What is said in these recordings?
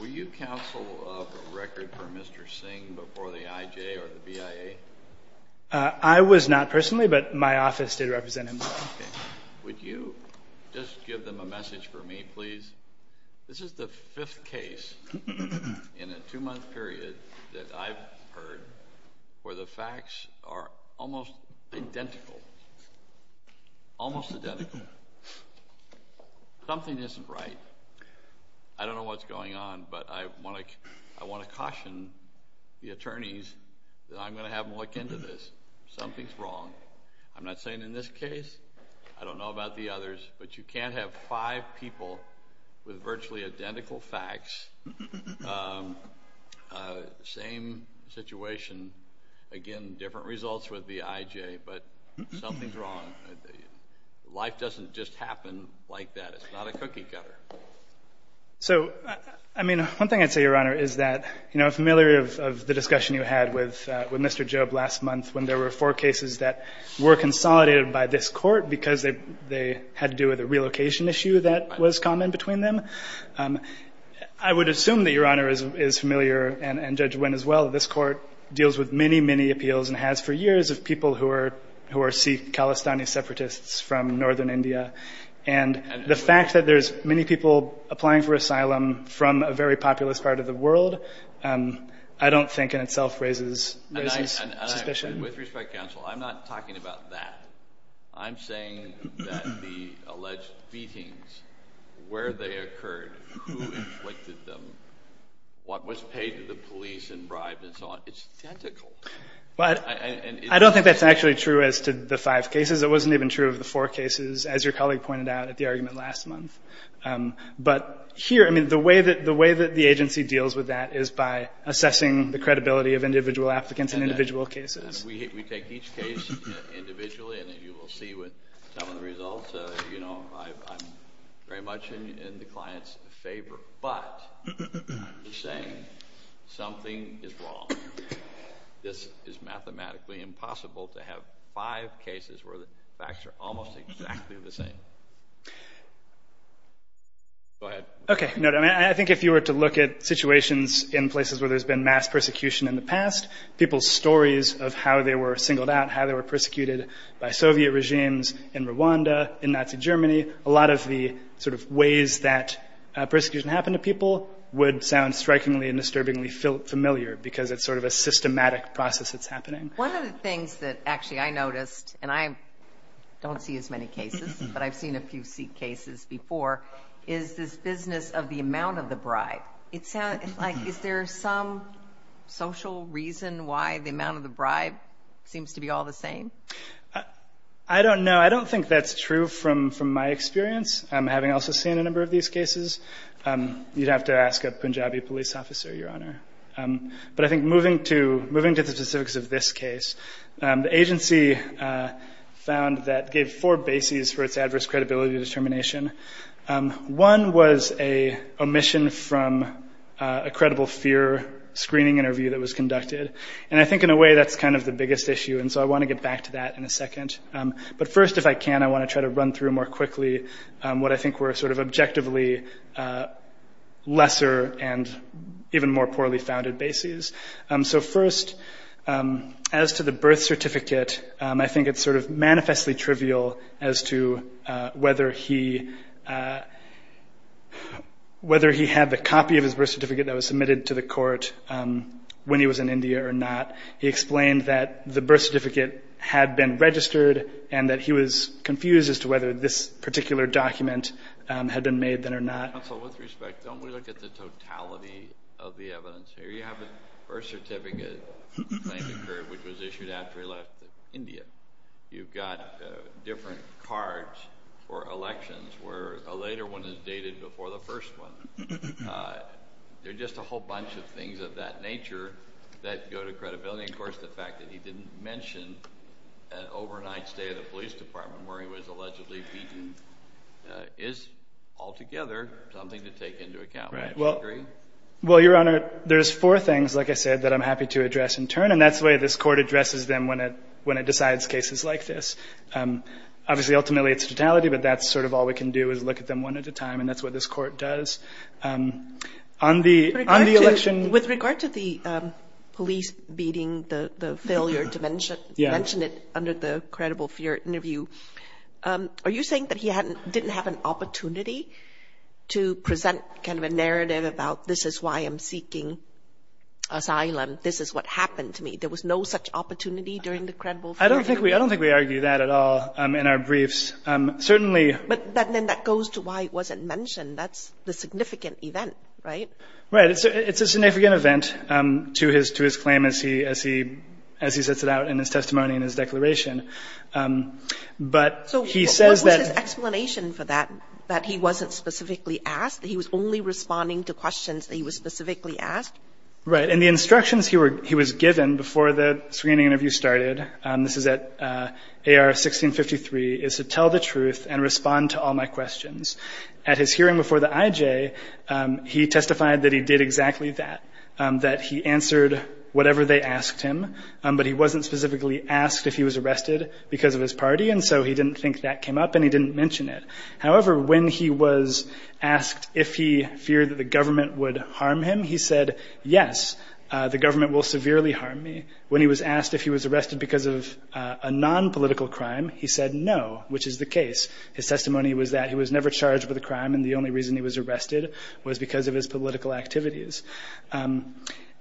Will you counsel a record for Mr. Singh before the IJ or the BIA? I was not personally, but my office did represent him. Would you just give them a message for me, please? This is the fifth case in a two-month period that I've heard where the facts are almost identical. Almost identical. Something isn't right. I don't know what's going on, but I want to caution the attorneys that I'm going to have them look into this. Something's wrong. I'm not saying in this case. I don't know about the others. But you can't have five people with virtually identical facts, same situation, again, different results with the IJ, but something's wrong. Life doesn't just happen like that. It's not a cookie cutter. So, I mean, one thing I'd say, Your Honor, is that, you know, I'm familiar of the discussion you had with Mr. Job last month when there were four cases that were consolidated by this Court because they had to do with a relocation issue that was common between them. I would assume that Your Honor is familiar, and Judge Wynn as well, that this Court deals with many, many appeals and has for years of people who are Sikh-Palestinian separatists from northern India. And the fact that there's many people applying for asylum from a very populous part of the world, I don't think in itself raises suspicion. With respect, counsel, I'm not talking about that. I'm saying that the alleged beatings, where they occurred, who inflicted them, what was paid to the police and bribed and so on, it's identical. I don't think that's actually true as to the five cases. It wasn't even true of the four cases, as your colleague pointed out at the argument last month. But here, I mean, the way that the agency deals with that is by assessing the credibility of individual applicants in individual cases. We take each case individually, and you will see with some of the results, you know, I'm very much in the client's favor. But I'm saying something is wrong. This is mathematically impossible to have five cases where the facts are almost exactly the same. Go ahead. Okay. I think if you were to look at situations in places where there's been mass persecution in the past, people's stories of how they were singled out, how they were persecuted by Soviet regimes in Rwanda, in Nazi Germany, a lot of the sort of ways that persecution happened to people would sound strikingly and disturbingly familiar because it's sort of a systematic process that's happening. One of the things that actually I noticed, and I don't see as many cases, but I've seen a few cases before, is this business of the amount of the bribe. Is there some social reason why the amount of the bribe seems to be all the same? I don't know. I don't think that's true from my experience, having also seen a number of these cases. You'd have to ask a Punjabi police officer, Your Honor. But I think moving to the specifics of this case, the agency found that it gave four bases for its adverse credibility determination. One was an omission from a credible fear screening interview that was conducted, and I think in a way that's kind of the biggest issue, and so I want to get back to that in a second. But first, if I can, I want to try to run through more quickly what I think were sort of objectively lesser and even more poorly founded bases. So first, as to the birth certificate, I think it's sort of manifestly trivial as to whether he had the copy of his birth certificate that was submitted to the court when he was in India or not. He explained that the birth certificate had been registered and that he was confused as to whether this particular document had been made then or not. Counsel, with respect, don't we look at the totality of the evidence here? You have a birth certificate which was issued after he left India. You've got different cards for elections where a later one is dated before the first one. There are just a whole bunch of things of that nature that go to credibility. Of course, the fact that he didn't mention an overnight stay at a police department where he was allegedly beaten is altogether something to take into account. Well, Your Honor, there's four things, like I said, that I'm happy to address in turn, and that's the way this court addresses them when it decides cases like this. Obviously, ultimately, it's totality, but that's sort of all we can do is look at them one at a time, and that's what this court does. With regard to the police beating, the failure to mention it under the credible fear interview, are you saying that he didn't have an opportunity to present kind of a narrative about, this is why I'm seeking asylum, this is what happened to me? There was no such opportunity during the credible fear interview? I don't think we argue that at all in our briefs. But then that goes to why it wasn't mentioned. That's the significant event, right? Right. It's a significant event to his claim as he sets it out in his testimony and his declaration. So what was his explanation for that, that he wasn't specifically asked, that he was only responding to questions that he was specifically asked? Right. And the instructions he was given before the screening interview started, this is at AR-1653, is to tell the truth and respond to all my questions. At his hearing before the IJ, he testified that he did exactly that, that he answered whatever they asked him, but he wasn't specifically asked if he was arrested because of his party, and so he didn't think that came up and he didn't mention it. However, when he was asked if he feared that the government would harm him, he said, yes, the government will severely harm me. When he was asked if he was arrested because of a nonpolitical crime, he said no, which is the case. His testimony was that he was never charged with a crime and the only reason he was arrested was because of his political activities.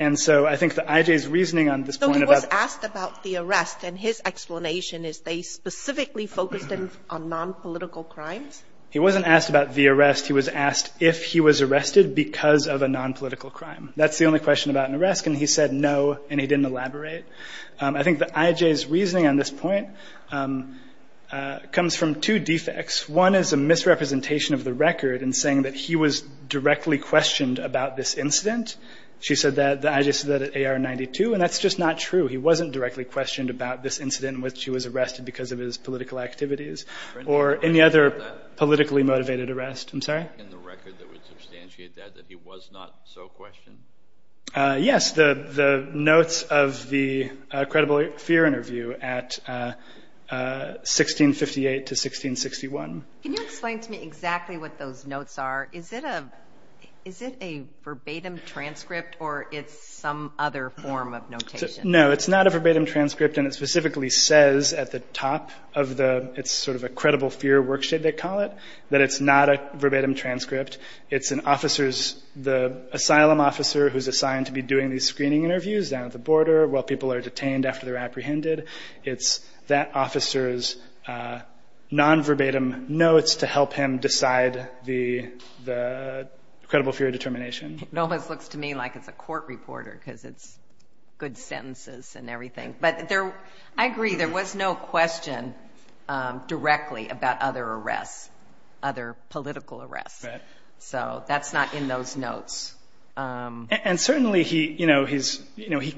And so I think the IJ's reasoning on this point about the arrest and his explanation is they specifically focused on nonpolitical crimes. He wasn't asked about the arrest. He was asked if he was arrested because of a nonpolitical crime. That's the only question about an arrest, and he said no, and he didn't elaborate. I think the IJ's reasoning on this point comes from two defects. One is a misrepresentation of the record in saying that he was directly questioned about this incident. She said that the IJ said that at AR-92, and that's just not true. He wasn't directly questioned about this incident in which he was arrested because of his political activities or any other politically motivated arrest. I'm sorry? Kennedy. In the record that would substantiate that, that he was not so questioned? Yes, the notes of the credible fear interview at 1658 to 1661. Can you explain to me exactly what those notes are? Is it a verbatim transcript, or it's some other form of notation? No, it's not a verbatim transcript, and it specifically says at the top of the – it's sort of a credible fear worksheet, they call it, that it's not a verbatim transcript. It's an officer's – the asylum officer who's assigned to be doing these screening interviews down at the border while people are detained after they're apprehended. It's that officer's nonverbatim notes to help him decide the credible fear determination. It almost looks to me like it's a court reporter because it's good sentences and everything. But I agree, there was no question directly about other arrests, other political arrests. Right. So that's not in those notes. And certainly he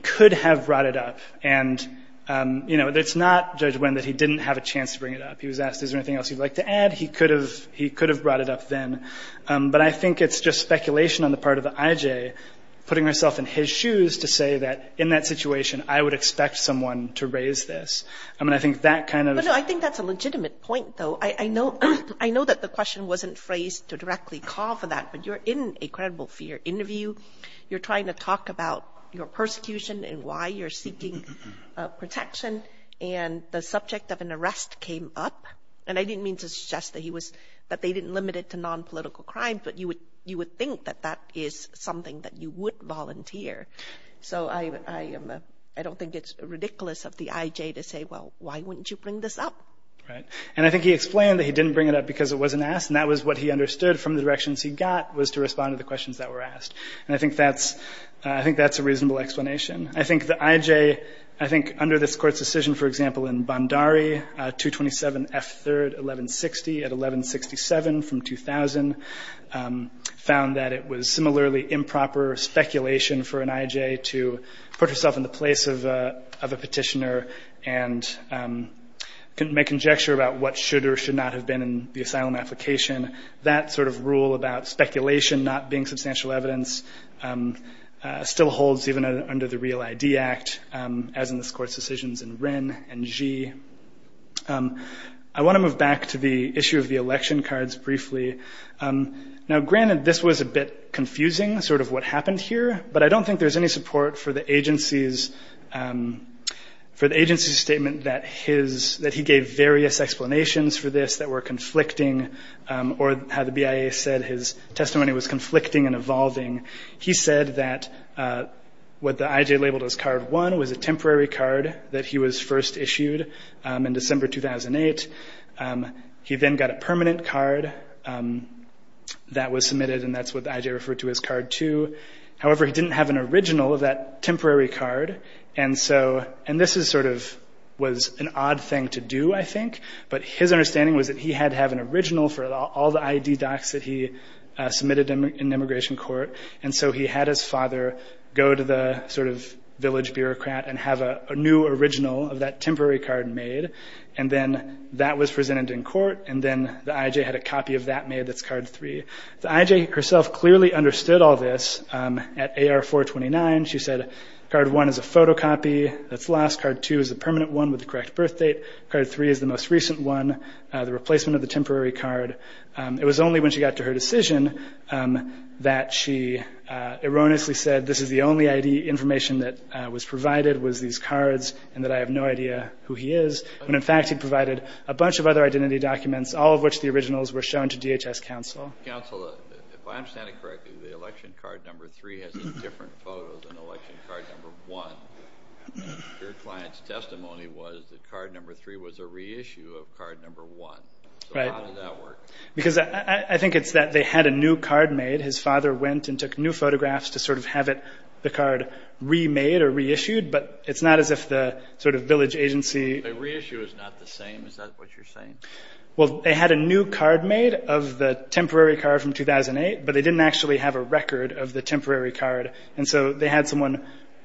could have brought it up. And it's not Judge Wynn that he didn't have a chance to bring it up. He was asked, is there anything else you'd like to add? He could have brought it up then. But I think it's just speculation on the part of the IJ putting herself in his shoes to say that in that situation I would expect someone to raise this. I mean, I think that kind of – No, no, I think that's a legitimate point, though. I know that the question wasn't phrased to directly call for that, but you're in a credible fear interview. You're trying to talk about your persecution and why you're seeking protection, and the subject of an arrest came up. And I didn't mean to suggest that he was – that they didn't limit it to nonpolitical crime, but you would think that that is something that you would volunteer. So I don't think it's ridiculous of the IJ to say, well, why wouldn't you bring this up? Right. And I think he explained that he didn't bring it up because it wasn't asked, and that was what he understood from the directions he got was to respond to the questions that were asked. And I think that's – I think that's a reasonable explanation. I think the IJ – I think under this Court's decision, for example, in Bondari, 227 F. 3rd, 1160 at 1167 from 2000, found that it was similarly improper speculation for an IJ to put herself in the place of a petitioner and make conjecture about what should or should not have been in the asylum application. That sort of rule about speculation not being substantial evidence still holds even under the Real ID Act, as in this Court's decisions in Wren and Gee. I want to move back to the issue of the election cards briefly. Now, granted, this was a bit confusing, sort of what happened here, but I don't think there's any support for the agency's – for the agency's statement that his – that he gave various explanations for this that were conflicting or how the BIA said his testimony was conflicting and evolving. He said that what the IJ labeled as Card 1 was a temporary card that he was first issued in December 2008. He then got a permanent card that was submitted, and that's what the IJ referred to as Card 2. However, he didn't have an original of that temporary card, and so – and this is sort of – was an odd thing to do, I think, but his understanding was that he had to have an original for all the ID docs that he submitted in immigration court, and so he had his father go to the sort of village bureaucrat and have a new original of that temporary card made, and then that was presented in court, and then the IJ had a copy of that made that's Card 3. The IJ herself clearly understood all this at AR-429. She said Card 1 is a photocopy that's lost. Card 2 is a permanent one with the correct birthdate. Card 3 is the most recent one, the replacement of the temporary card. It was only when she got to her decision that she erroneously said, this is the only ID information that was provided was these cards and that I have no idea who he is, when in fact he provided a bunch of other identity documents, all of which the originals were shown to DHS counsel. Counsel, if I understand it correctly, the election card number 3 has a different photo than election card number 1. Your client's testimony was that card number 3 was a reissue of card number 1. Right. So how did that work? Because I think it's that they had a new card made. His father went and took new photographs to sort of have the card remade or reissued, but it's not as if the sort of village agency – The reissue is not the same. Is that what you're saying? Well, they had a new card made of the temporary card from 2008, but they didn't actually have a record of the temporary card, and so they had someone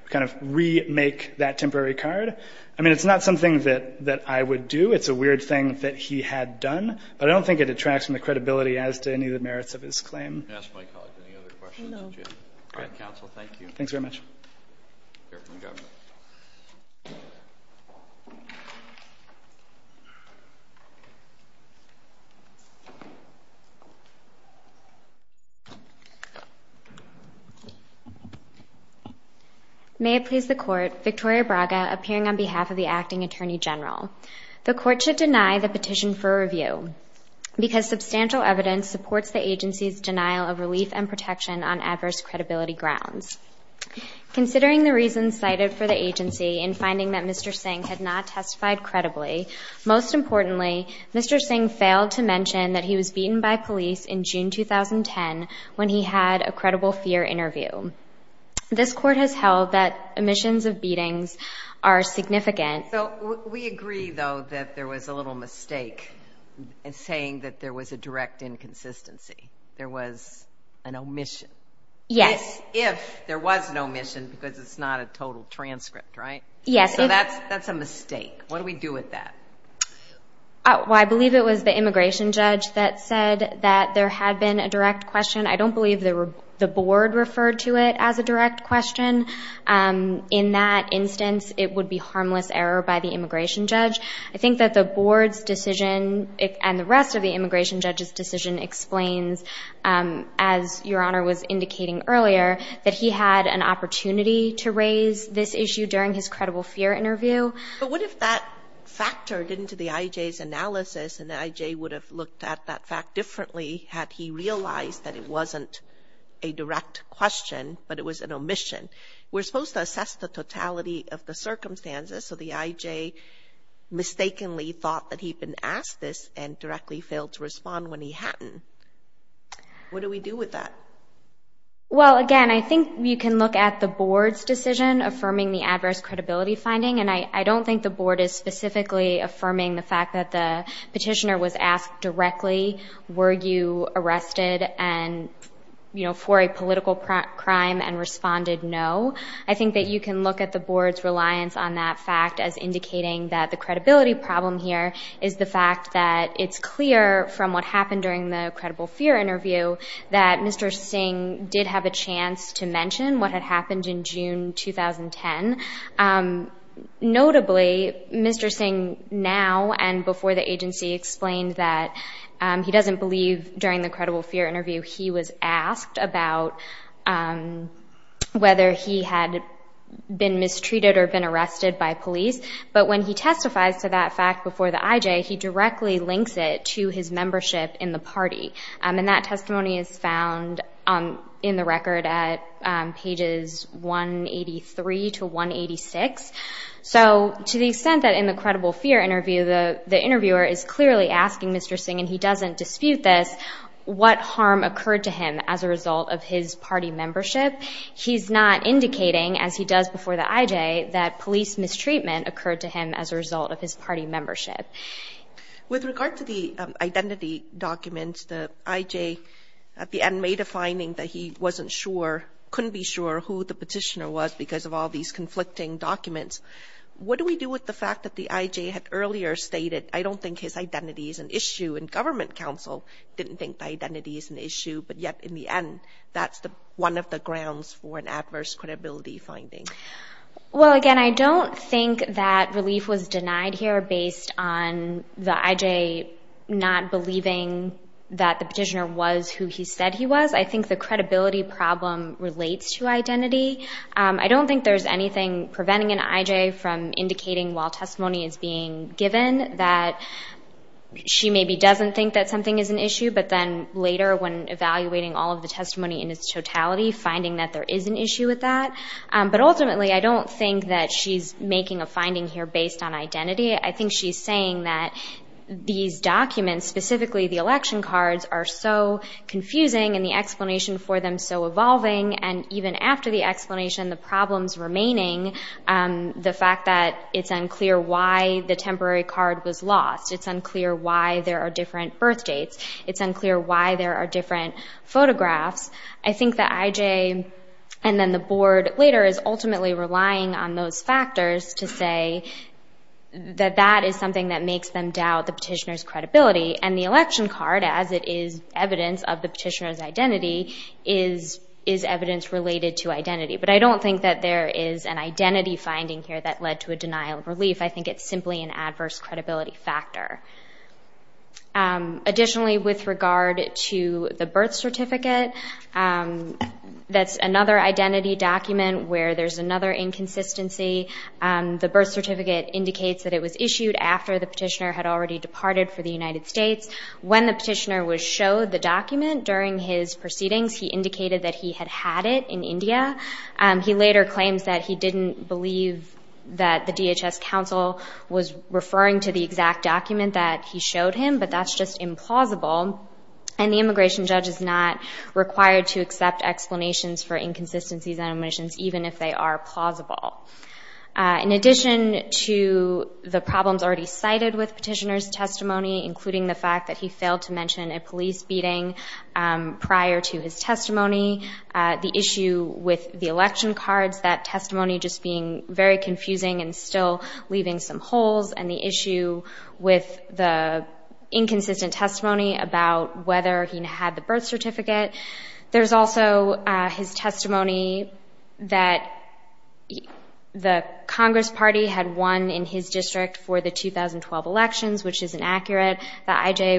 kind of remake that temporary card. I mean, it's not something that I would do. It's a weird thing that he had done, but I don't think it detracts from the credibility as to any of the merits of his claim. Can I ask my colleague any other questions? No. All right, counsel, thank you. Thanks very much. Here we go. May it please the Court, Victoria Braga appearing on behalf of the Acting Attorney General. The Court should deny the petition for review because substantial evidence supports the agency's denial of relief and protection on adverse credibility grounds. Considering the reasons cited for the agency in finding that Mr. Singh had not testified credibly, most importantly, Mr. Singh failed to mention that he was beaten by police in June 2010 when he had a credible fear interview. This Court has held that omissions of beatings are significant. We agree, though, that there was a little mistake in saying that there was a direct inconsistency. There was an omission. Yes. If there was an omission because it's not a total transcript, right? Yes. So that's a mistake. What do we do with that? Well, I believe it was the immigration judge that said that there had been a direct question. I don't believe the board referred to it as a direct question. In that instance, it would be harmless error by the immigration judge. I think that the board's decision and the rest of the immigration judge's decision explains, as Your Honor was indicating earlier, that he had an opportunity to raise this issue during his credible fear interview. But what if that factored into the IJ's analysis and the IJ would have looked at that fact differently had he realized that it wasn't a direct question but it was an omission? We're supposed to assess the totality of the circumstances, so the IJ mistakenly thought that he'd been asked this and directly failed to respond when he hadn't. What do we do with that? Well, again, I think you can look at the board's decision affirming the adverse credibility finding, and I don't think the board is specifically affirming the fact that the petitioner was asked directly, were you arrested for a political crime and responded no. I think that you can look at the board's reliance on that fact as indicating that the credibility problem here is the fact that it's clear from what happened during the credible fear interview that Mr. Singh did have a chance to mention what had happened in June 2010. Notably, Mr. Singh now and before the agency explained that he doesn't believe during the credible fear interview he was asked about whether he had been mistreated or been arrested by police, but when he testifies to that fact before the IJ, he directly links it to his membership in the party, and that testimony is found in the record at pages 183 to 186. So to the extent that in the credible fear interview the interviewer is clearly asking Mr. Singh, and he doesn't dispute this, what harm occurred to him as a result of his party membership, he's not indicating, as he does before the IJ, that police mistreatment occurred to him as a result of his party membership. With regard to the identity documents, the IJ at the end made a finding that he wasn't sure, couldn't be sure who the petitioner was because of all these conflicting documents. What do we do with the fact that the IJ had earlier stated, I don't think his identity is an issue, and government counsel didn't think the identity is an issue, but yet in the end that's one of the grounds for an adverse credibility finding? Well, again, I don't think that relief was denied here based on the IJ not believing that the petitioner was who he said he was. I think the credibility problem relates to identity. I don't think there's anything preventing an IJ from indicating, while testimony is being given, that she maybe doesn't think that something is an issue, but then later when evaluating all of the testimony in its totality, finding that there is an issue with that. But ultimately, I don't think that she's making a finding here based on identity. I think she's saying that these documents, specifically the election cards, are so confusing and the explanation for them so evolving, and even after the explanation, the problems remaining, the fact that it's unclear why the temporary card was lost, it's unclear why there are different birth dates, it's unclear why there are different photographs. I think the IJ, and then the board later, is ultimately relying on those factors to say that that is something that makes them doubt the petitioner's credibility, and the election card, as it is evidence of the petitioner's identity, is evidence related to identity. But I don't think that there is an identity finding here that led to a denial of relief. I think it's simply an adverse credibility factor. Additionally, with regard to the birth certificate, that's another identity document where there's another inconsistency. The birth certificate indicates that it was issued after the petitioner had already departed for the United States. When the petitioner was showed the document during his proceedings, he indicated that he had had it in India. He later claims that he didn't believe that the DHS counsel was referring to the exact document that he showed him, but that's just implausible, and the immigration judge is not required to accept explanations for inconsistencies and omissions, even if they are plausible. In addition to the problems already cited with petitioner's testimony, including the fact that he failed to mention a police beating prior to his testimony, the issue with the election cards, that testimony just being very confusing and still leaving some holes, and the issue with the inconsistent testimony about whether he had the birth certificate, there's also his testimony that the Congress Party had won in his district for the 2012 elections, which is inaccurate, that I.J.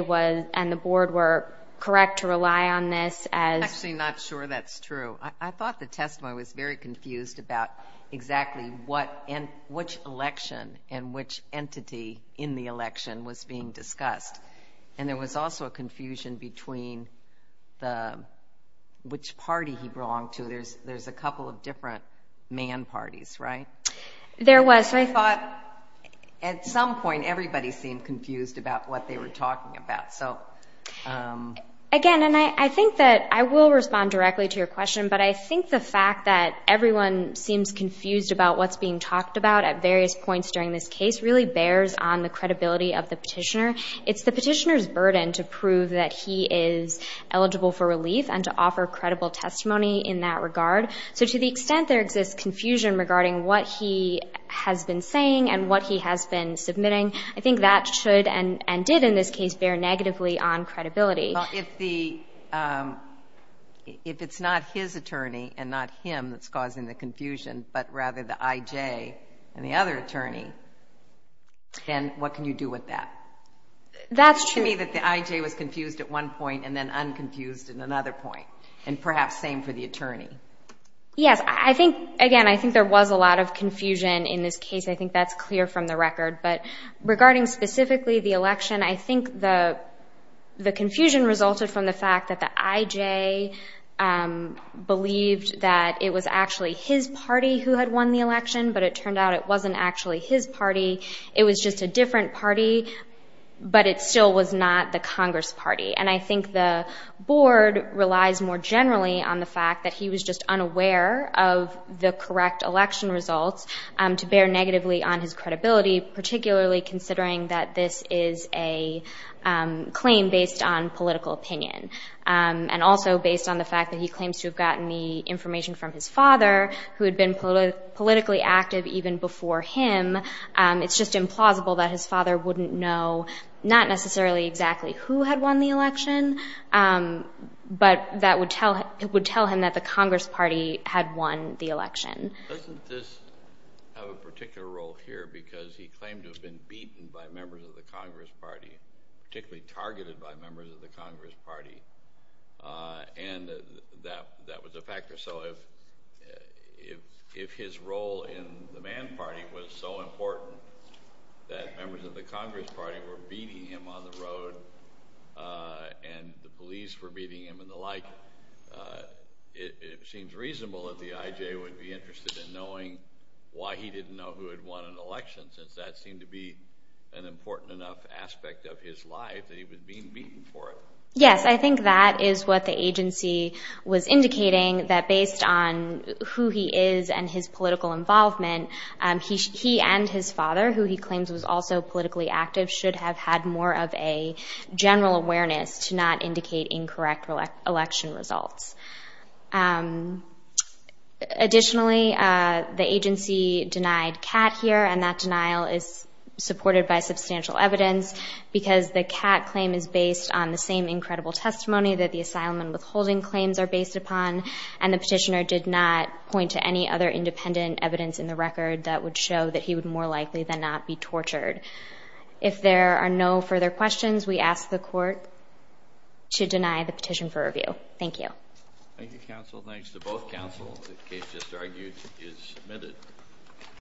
and the board were correct to rely on this as... I'm actually not sure that's true. I thought the testimony was very confused about exactly which election and which entity in the election was being discussed, and there was also a confusion between which party he belonged to. There's a couple of different man parties, right? There was. I thought at some point everybody seemed confused about what they were talking about. Again, and I think that I will respond directly to your question, but I think the fact that everyone seems confused about what's being talked about at various points during this case really bears on the credibility of the petitioner. It's the petitioner's burden to prove that he is eligible for relief and to offer credible testimony in that regard. So to the extent there exists confusion regarding what he has been saying and what he has been submitting, I think that should and did in this case bear negatively on credibility. Well, if it's not his attorney and not him that's causing the confusion but rather the I.J. and the other attorney, then what can you do with that? That's true. It seems to me that the I.J. was confused at one point and then unconfused at another point, and perhaps same for the attorney. Yes. Again, I think there was a lot of confusion in this case. I think that's clear from the record. But regarding specifically the election, I think the confusion resulted from the fact that the I.J. believed that it was actually his party who had won the election, but it turned out it wasn't actually his party. It was just a different party, but it still was not the Congress party. And I think the board relies more generally on the fact that he was just unaware of the correct election results to bear negatively on his credibility, particularly considering that this is a claim based on political opinion and also based on the fact that he claims to have gotten the information from his father, who had been politically active even before him. It's just implausible that his father wouldn't know, not necessarily exactly who had won the election, but that would tell him that the Congress party had won the election. Doesn't this have a particular role here because he claimed to have been beaten by members of the Congress party, particularly targeted by members of the Congress party, and that was a factor? So if his role in the Mann Party was so important that members of the Congress party were beating him on the road and the police were beating him and the like, it seems reasonable that the IJ would be interested in knowing why he didn't know who had won an election since that seemed to be an important enough aspect of his life that he was being beaten for it. Yes, I think that is what the agency was indicating, that based on who he is and his political involvement, he and his father, who he claims was also politically active, should have had more of a general awareness to not indicate incorrect election results. Additionally, the agency denied Catt here, and that denial is supported by substantial evidence because the Catt claim is based on the same incredible testimony that the asylum and withholding claims are based upon, and the petitioner did not point to any other independent evidence in the record that would show that he would more likely than not be tortured. If there are no further questions, we ask the court to deny the petition for review. Thank you. Thank you, counsel. Thanks to both counsel. The case just argued is submitted.